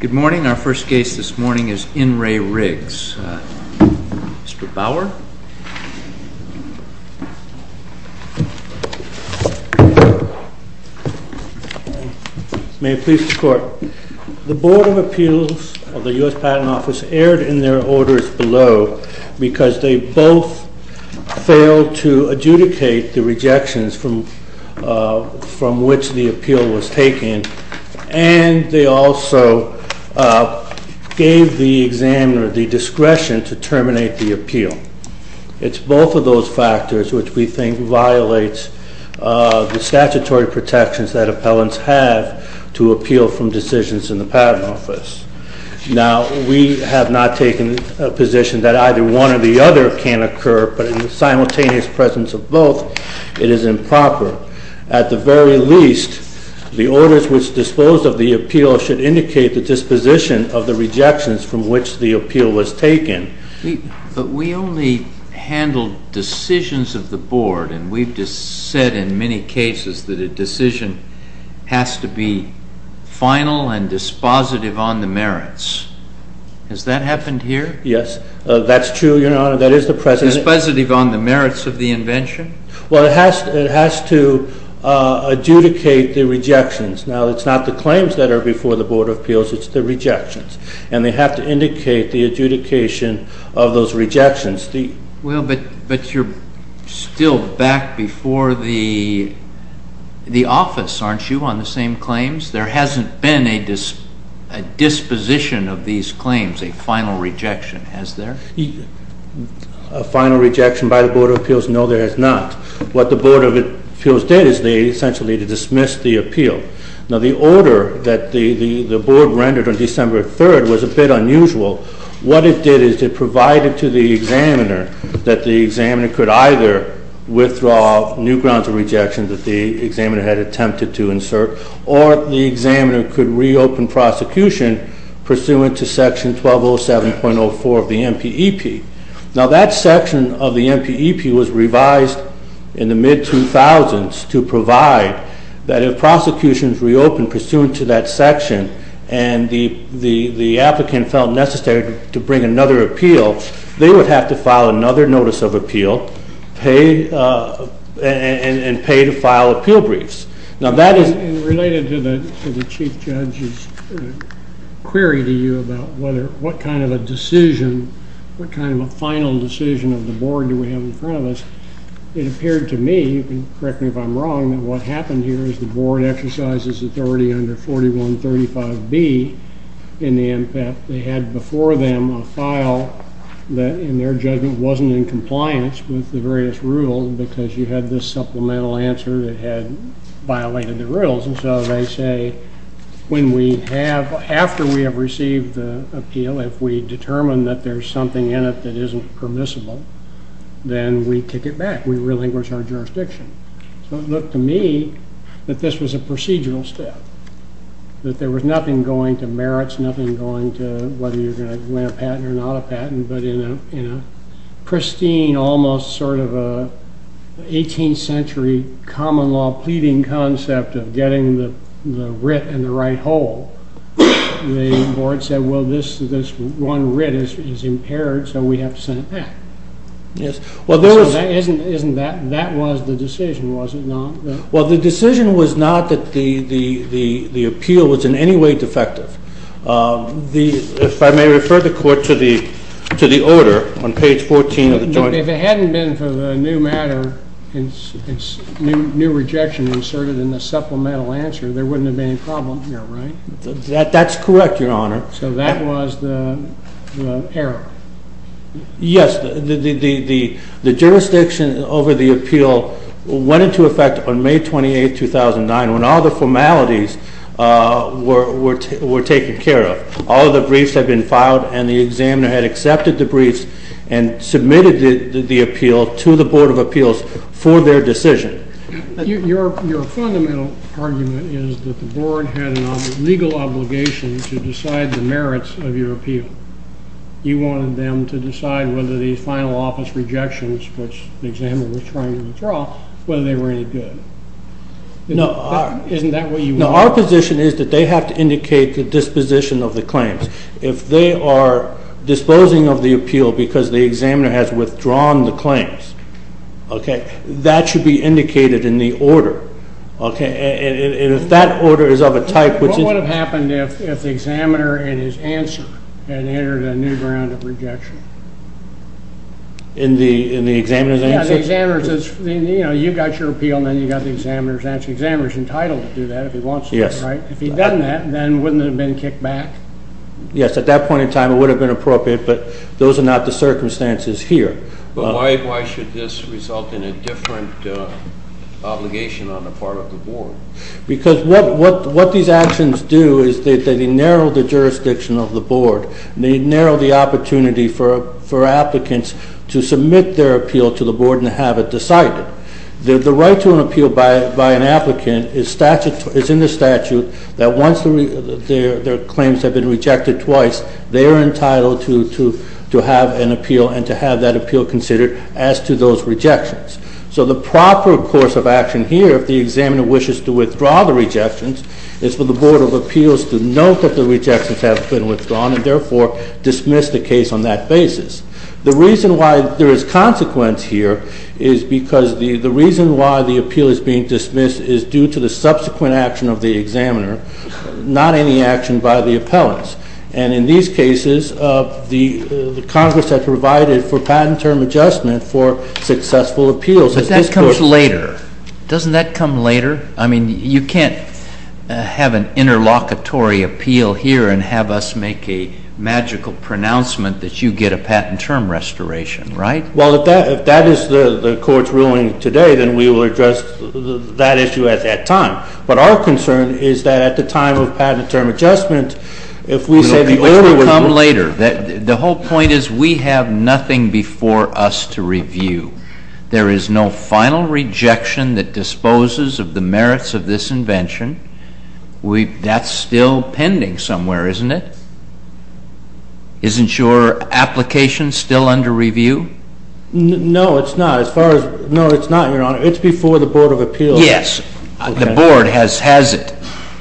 MR. BAUER. May it please the Court. The Board of Appeals of the U.S. Patent Office erred in their orders below because they both failed to adjudicate the rejections from which the appeal was taken, and they also gave the examiner the discretion to terminate the appeal. It's both of those factors which we think violates the statutory protections that appellants have to appeal from decisions in the patent office. Now, we have not taken a position that either one or the other can occur, but in the simultaneous presence of both, it is improper. At the very least, the orders which dispose of the appeal should indicate the disposition of the rejections from which the appeal was taken. CHIEF JUSTICE ROBERTS. But we only handle decisions of the Board, and we've just said in many cases that a decision has to be final and dispositive on the merits. Has that happened here? MR. BAUER. Yes, that's true, Your Honor. That is the President. CHIEF JUSTICE ROBERTS. Dispositive on the merits of the invention? MR. BAUER. Well, it has to adjudicate the rejections. Now, it's not the claims that are before the Board of Appeals, it's the rejections. And they have to indicate the adjudication of those rejections. CHIEF JUSTICE ROBERTS. Well, but you're still back before the office, aren't you, on the same claims? There hasn't been a disposition of these claims, a final rejection, has there? MR. BAUER. A final rejection by the Board of Appeals? No, there has not. What the Board of Appeals did is they essentially dismissed the appeal. Now, the order that the Board rendered on December 3rd was a bit unusual. What it did is it provided to the examiner that the examiner could either withdraw new grounds of rejection that the examiner had attempted to insert, or the examiner could reopen prosecution pursuant to Section 1207.04 of the MPEP. Now, that section of the MPEP was revised in the mid-2000s to provide that if prosecutions reopened pursuant to that section and the applicant felt necessary to bring another appeal, they would have to file another notice of appeal and pay to file appeal briefs. Now, that is related to the Chief Judge's query to you about what kind of a decision, what kind of a final decision of the Board do we have in front of us. It appeared to me, and correct me if I'm wrong, that what happened here is the Board exercises authority under 4135B in the MPEP. They had before them a file that, in their judgment, wasn't in compliance with the various rules because you had this supplemental answer that had violated the rules. And so they say, after we have received the appeal, if we determine that there's something in it that isn't permissible, then we kick it back. We relinquish our jurisdiction. So it looked to me that this was a procedural step, that there was nothing going to merits, nothing going to whether you're going to win a patent or not a patent, but in a pristine, almost sort of an 18th century common law pleading concept of getting the writ in the right hole, the Board said, well, this one writ is impaired, so we have to send it back. So that was the decision, was it not? Well, the decision was not that the appeal was in any way defective. If I may refer the Court to the order on page 14 of the joint... If it hadn't been for the new matter, new rejection inserted in the supplemental answer, there wouldn't have been a problem here, right? That's correct, Your Honor. So that was the error? Yes, the jurisdiction over the appeal went into effect on May 28, 2009, when all the formalities were taken care of. All the briefs had been filed, and the examiner had accepted the briefs and submitted the appeal to the Board of Appeals for their decision. Your fundamental argument is that the Board had a legal obligation to decide the merits of your appeal. You wanted them to decide whether these final office rejections, which the examiner was trying to withdraw, whether they were any good. Isn't that what you wanted? No, our position is that they have to indicate the disposition of the claims. If they are disposing of the appeal because the examiner has withdrawn the claims, that should be indicated in the order. And if that order is of a type which... What would have happened if the examiner, in his answer, had entered a new ground of rejection? In the examiner's answer? Yeah, the examiner says, you know, you got your appeal, and then you got the examiner's answer. The examiner is entitled to do that if he wants to, right? Yes. If he'd done that, then wouldn't it have been kicked back? Yes, at that point in time it would have been appropriate, but those are not the circumstances here. But why should this result in a different obligation on the part of the Board? Because what these actions do is they narrow the jurisdiction of the Board. They narrow the opportunity for applicants to submit their appeal to the Board and have it decided. The right to an appeal by an applicant is in the statute that once their claims have been rejected twice, they are entitled to have an appeal and to have that appeal considered as to those rejections. So the proper course of action here, if the examiner wishes to withdraw the rejections, is for the Board of Appeals to note that the rejections have been withdrawn and therefore dismiss the case on that basis. The reason why there is consequence here is because the reason why the appeal is being dismissed is due to the subsequent action of the examiner, not any action by the appellants. And in these cases, the Congress has provided for patent term adjustment for successful appeals. But that comes later. Doesn't that come later? I mean, you can't have an interlocutory appeal here and have us make a magical pronouncement that you get a patent term restoration, right? Well, if that is the Court's ruling today, then we will address that issue at that time. But our concern is that at the time of patent term adjustment, if we say the order would... Which would come later. The whole point is we have nothing before us to review. There is no final rejection that disposes of the merits of this invention. That's still pending somewhere, isn't it? Isn't your application still under review? No, it's not. As far as... No, it's not, Your Honor. It's before the Board of Appeals. Yes. The Board has it.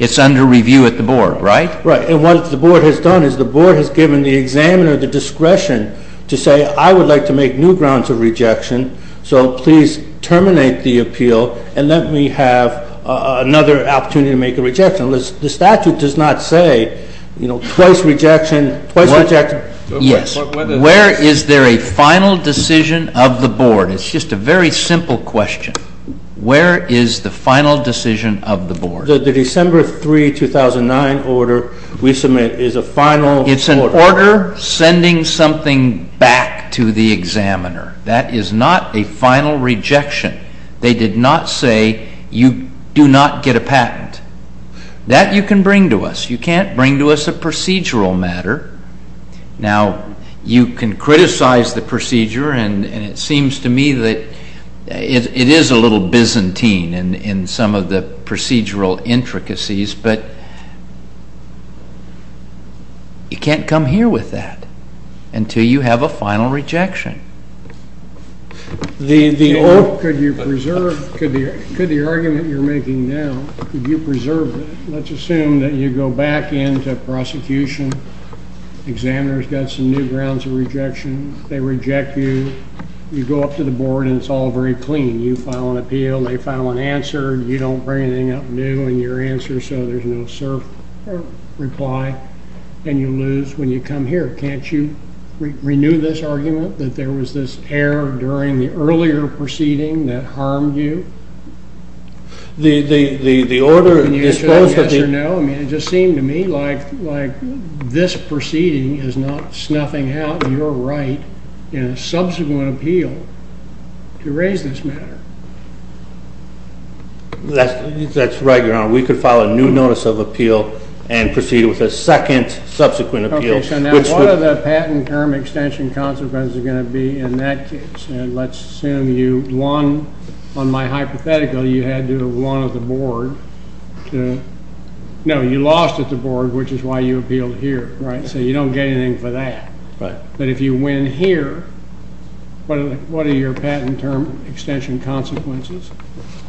It's under review at the Board, right? Right. And what the Board has done is the Board has given the examiner the discretion to say, I would like to make new grounds of rejection, so please terminate the appeal and let me have another opportunity to make a rejection. The statute does not say, you know, twice rejection, twice rejection. It's just a very simple question. Where is the final decision of the Board? The December 3, 2009 order we submit is a final... It's an order sending something back to the examiner. That is not a final rejection. They did not say, you do not get a patent. That you can bring to us. You can't bring to us a procedural matter. Now, you can criticize the procedure and it seems to me that it is a little Byzantine in some of the procedural intricacies, but you can't come here with that until you have a final rejection. The old, could you preserve, could the argument you're making now, could you preserve it? Let's assume that you go back into prosecution. The examiner's got some new grounds of rejection. They reject you. You go up to the Board and it's all very clean. You file an appeal. They file an answer. You don't bring anything up new in your answer, so there's no cert reply and you lose when you come here. Can't you renew this argument that there was this error during the earlier proceeding that harmed you? Can you answer that yes or no? It just seemed to me like this proceeding is not snuffing out your right in a subsequent appeal to raise this matter. That's right, Your Honor. We could file a new notice of appeal and proceed with a second subsequent appeal. What are the patent term extension consequences going to be in that case? Let's assume you won. On my hypothetical, you had to have won at the Board. No, you lost at the Board which is why you appealed here. So you don't get anything for that. But if you win here, what are your patent term extension consequences?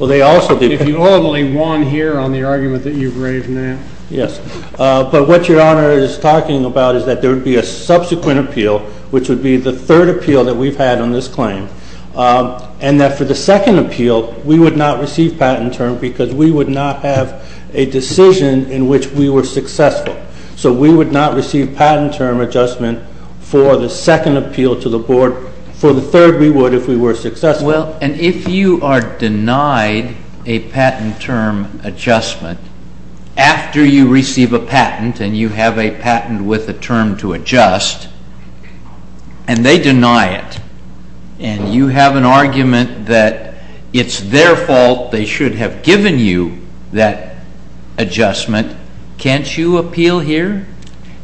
If you only won here on the argument that you've raised now. Yes, but what Your Honor is talking about is that there would be a subsequent appeal, which would be the third appeal that we've had on this claim. And that for the second appeal, we would not receive patent term because we would not have a decision in which we were successful. So we would not receive patent term adjustment for the second appeal to the Board. For the third we would if we were successful. And if you are denied a patent term adjustment after you receive a patent and you have a patent with a term to adjust and they deny it and you have an argument that it's their fault they should have given you that adjustment, can't you appeal here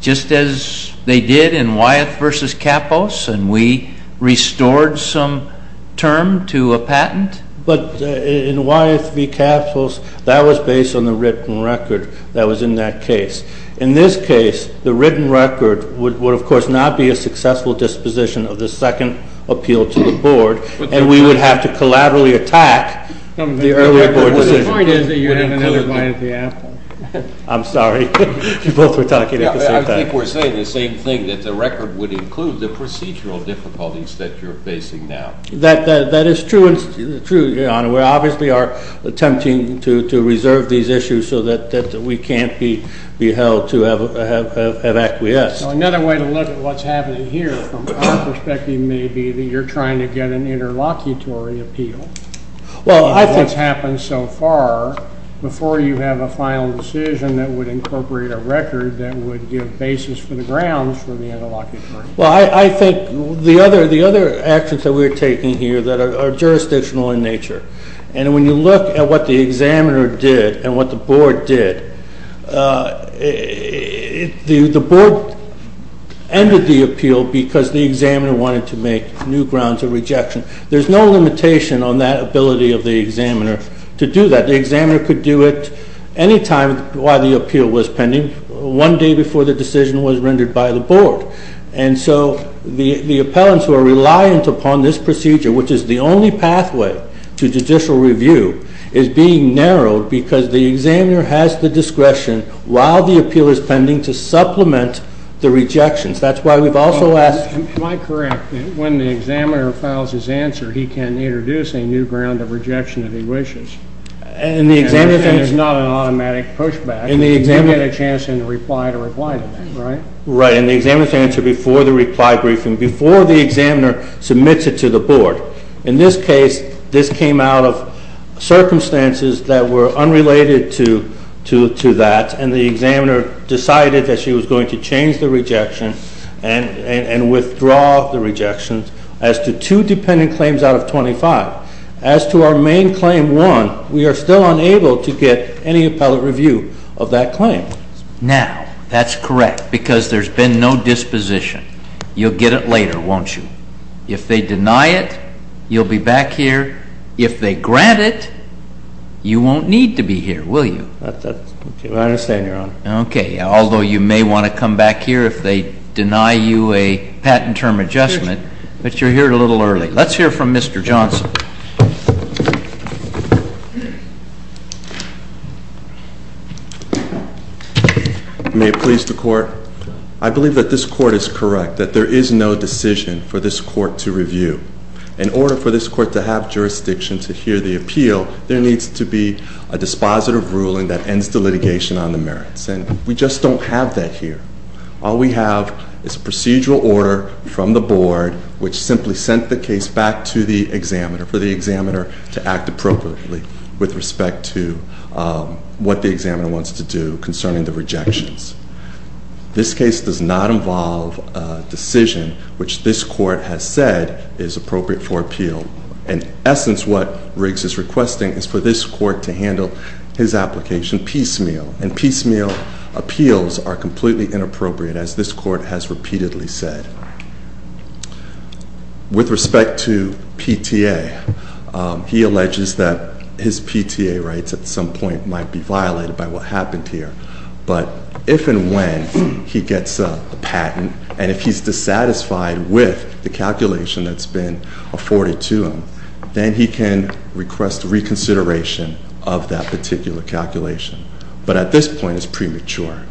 just as they did in Wyeth v. Kapos and we restored some term to a patent? But in Wyeth v. Kapos, that was based on the written record that was in that case. In this case the written record would of course not be a successful disposition of the second appeal to the Board and we would have to collaterally attack the earlier Board decision. But the point is that you're having another bite at the apple. I'm sorry. You both were talking at the same time. I think we're saying the same thing that the record would include the procedural difficulties that you're facing now. That is true, Your Honor. We obviously are attempting to reserve these issues so that we can't be able to have acquiesced. Another way to look at what's happening here from our perspective may be that you're trying to get an interlocutory appeal. Well, I think what's happened so far before you have a final decision that would incorporate a record that would give basis for the grounds for the interlocutory appeal. Well, I think the other actions that we're taking here that are jurisdictional in nature and when you look at what the examiner did and what the Board did the Board ended the appeal because the examiner wanted to make new grounds of rejection. There's no limitation on that ability of the examiner to do that. The examiner could do it anytime while the appeal was pending, one day before the decision was rendered by the Board. And so the appellants who are reliant upon this procedure, which is the only pathway to judicial review, is being narrowed because the examiner has the discretion while the appeal is pending to supplement the rejections. That's why we've also asked... Am I correct that when the examiner files his answer, he can introduce a new ground of rejection if he wishes? Everything is not an automatic pushback. You get a chance to reply to that, right? Right. And the examiner's answer before the reply briefing, before the examiner submits it to the Board. In this case, this came out of circumstances that were unrelated to that and the examiner decided that she was going to change the rejection and withdraw the rejection as to two dependent claims out of 25. As to our main claim 1, we are still unable to get any appellate review of that claim. Now, that's correct because there's been no disposition. You'll get it later, won't you? If they deny it, you'll be back here. If they grant it, you won't need to be here, will you? I understand, Your Honor. Okay. Although you may want to come back here if they deny you a patent term adjustment, but you're here a little early. Let's hear from Mr. Johnson. May it please the Court. I believe that this Court is correct that there is no decision for this Court to review. In order for this Court to have jurisdiction to hear the appeal, there needs to be a dispositive ruling that ends the litigation on the merits and we just don't have that here. All we have is procedural order from the Board which simply sent the case back to the examiner for the examiner to act appropriately with respect to what the examiner wants to do concerning the rejections. This case does not involve a decision which this Court has said is appropriate for appeal. In essence what Riggs is requesting is for this Court to handle his application piecemeal, and piecemeal appeals are completely inappropriate as this Court has repeatedly said. With respect to PTA, he alleges that his PTA rights at some point might be violated by what happened here, but if and when he gets a patent and if he's dissatisfied with the calculation that's been afforded to him, then he can request reconsideration of that particular calculation. But at this point it's premature.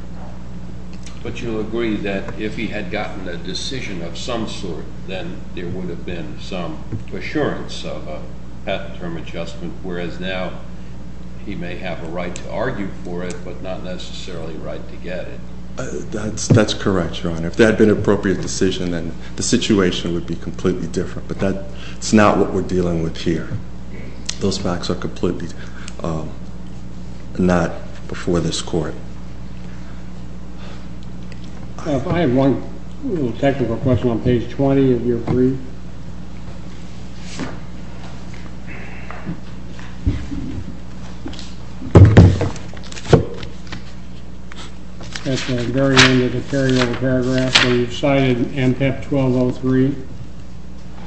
But you'll agree that if he had gotten a decision of some sort, then there would have been some assurance of a patent term adjustment, whereas now he may have a right to argue for it, but not necessarily a right to get it. That's correct, Your Honor. If that had been an appropriate decision, then the situation would be completely different, but that's not what we're dealing with here. Those facts are completely not before this Court. I have one technical question on page 20, if you're free. Thank you. At the very end of the carryover paragraph where you've cited MPEP 1203,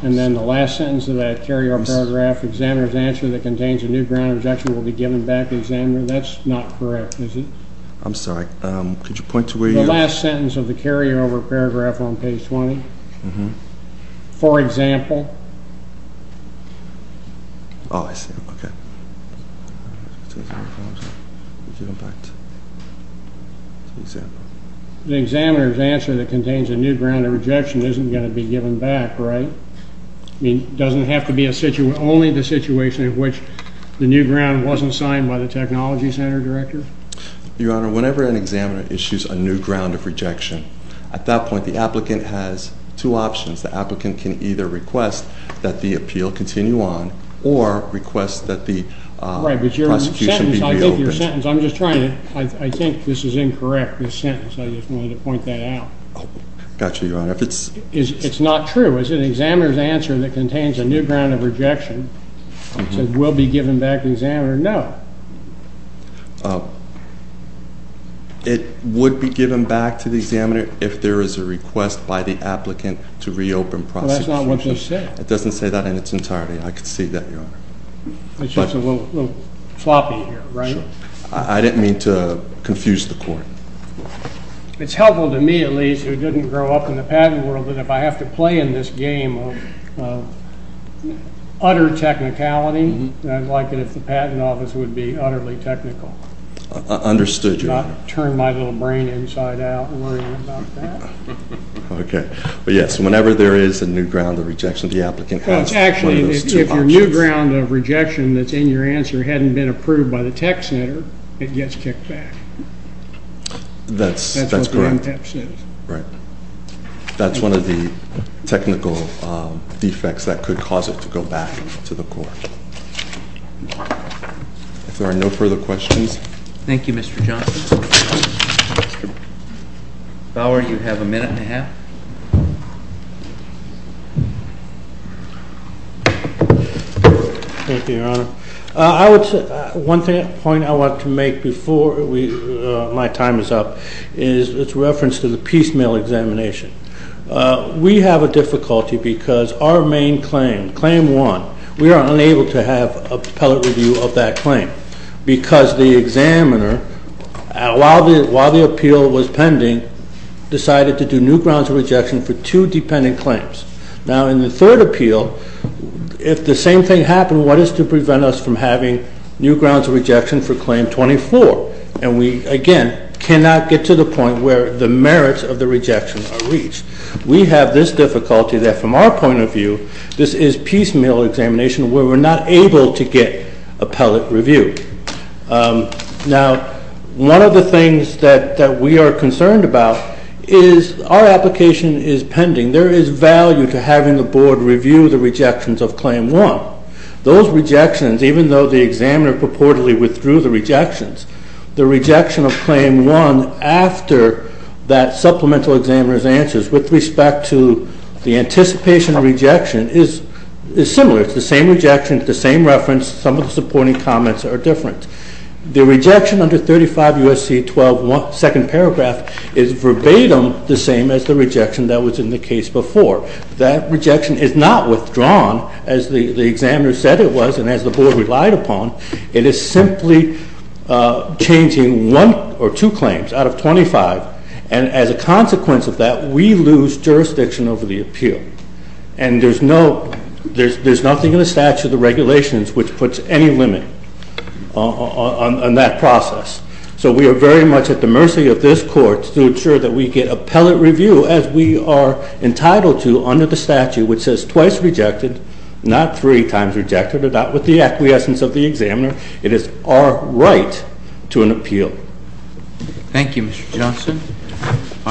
and then the last sentence of that carryover paragraph, examiner's answer that contains a new ground objection will be given back to the examiner. That's not correct, is it? I'm sorry. Could you point to where you... The last sentence of the carryover paragraph on page 20. For example... The examiner's answer that contains a new ground of rejection isn't going to be given back, right? It doesn't have to be only the situation in which the new ground wasn't signed by the technology center director? Your Honor, whenever an examiner issues a new ground of rejection, at that point the applicant has two options. The applicant can either request that the appeal continue on or request that the prosecution be reopened. Right, but your sentence... I think your sentence... I'm just trying to... I think this is incorrect, this sentence. I just wanted to point that out. Gotcha, Your Honor. If it's... It's not true. It's an examiner's answer that contains a new ground of rejection. It says, will be given back to the examiner. No. It would be given back to the examiner if there is a request by the applicant to reopen prosecution. But that's not what they say. It doesn't say that in its entirety. I can see that, Your Honor. It's just a little floppy here, right? Sure. I didn't mean to confuse the court. It's helpful to me, at least, who didn't grow up in the patent world, that if I have to play in this game of utter technicality, I'd like it if the patent office would be utterly technical. Understood, Your Honor. Not turn my little brain inside out worrying about that. Okay. But yes, whenever there is a new ground of rejection, the applicant has one of those two options. Actually, if your new ground of rejection that's in your answer hadn't been approved by the tech center, it gets kicked back. That's correct. That's what the NPEP says. Right. That's one of the technical defects that could cause it to go back to the court. If there are no further questions... Thank you, Mr. Johnson. Bauer, you have a minute and a half. Thank you, Your Honor. One point I want to make before my time is up is its reference to the piecemeal examination. We have a difficulty because our main claim, claim one, we are unable to have appellate review of that claim because the examiner, while the appeal was pending, decided to do new grounds of rejection for two dependent claims. Now, in the third appeal, if the same thing happened, what is to prevent us from having new grounds of rejection for claim 24? And we, again, cannot get to the point where the merits of the rejection are reached. We have this difficulty that from our point of view, this is piecemeal examination where we're not able to get appellate review. Now, one of the things that we are concerned about is our application is pending. There is value to having the Board review the rejections of claim one. Those rejections, even though the examiner purportedly withdrew the rejections, the rejection of claim one after that supplemental examiner's answers with respect to the anticipation of rejection is similar. It's the same rejection, the same reference. Some of the supporting comments are different. The rejection under 35 U.S.C. 12, second paragraph is verbatim the same as the rejection that was in the case before. That rejection is not withdrawn as the examiner said it was and as the Board relied upon. It is simply changing one or two claims out of 25 and as a consequence of that, we lose jurisdiction over the appeal. And there's nothing in the statute of regulations which puts any limit on that process. So we are very much at the mercy of this Court to ensure that we get appellate review as we are entitled to under the statute which says twice rejected, not three times rejected or not with the acquiescence of the examiner. It is our right to an appeal. Thank you, Mr. Johnson.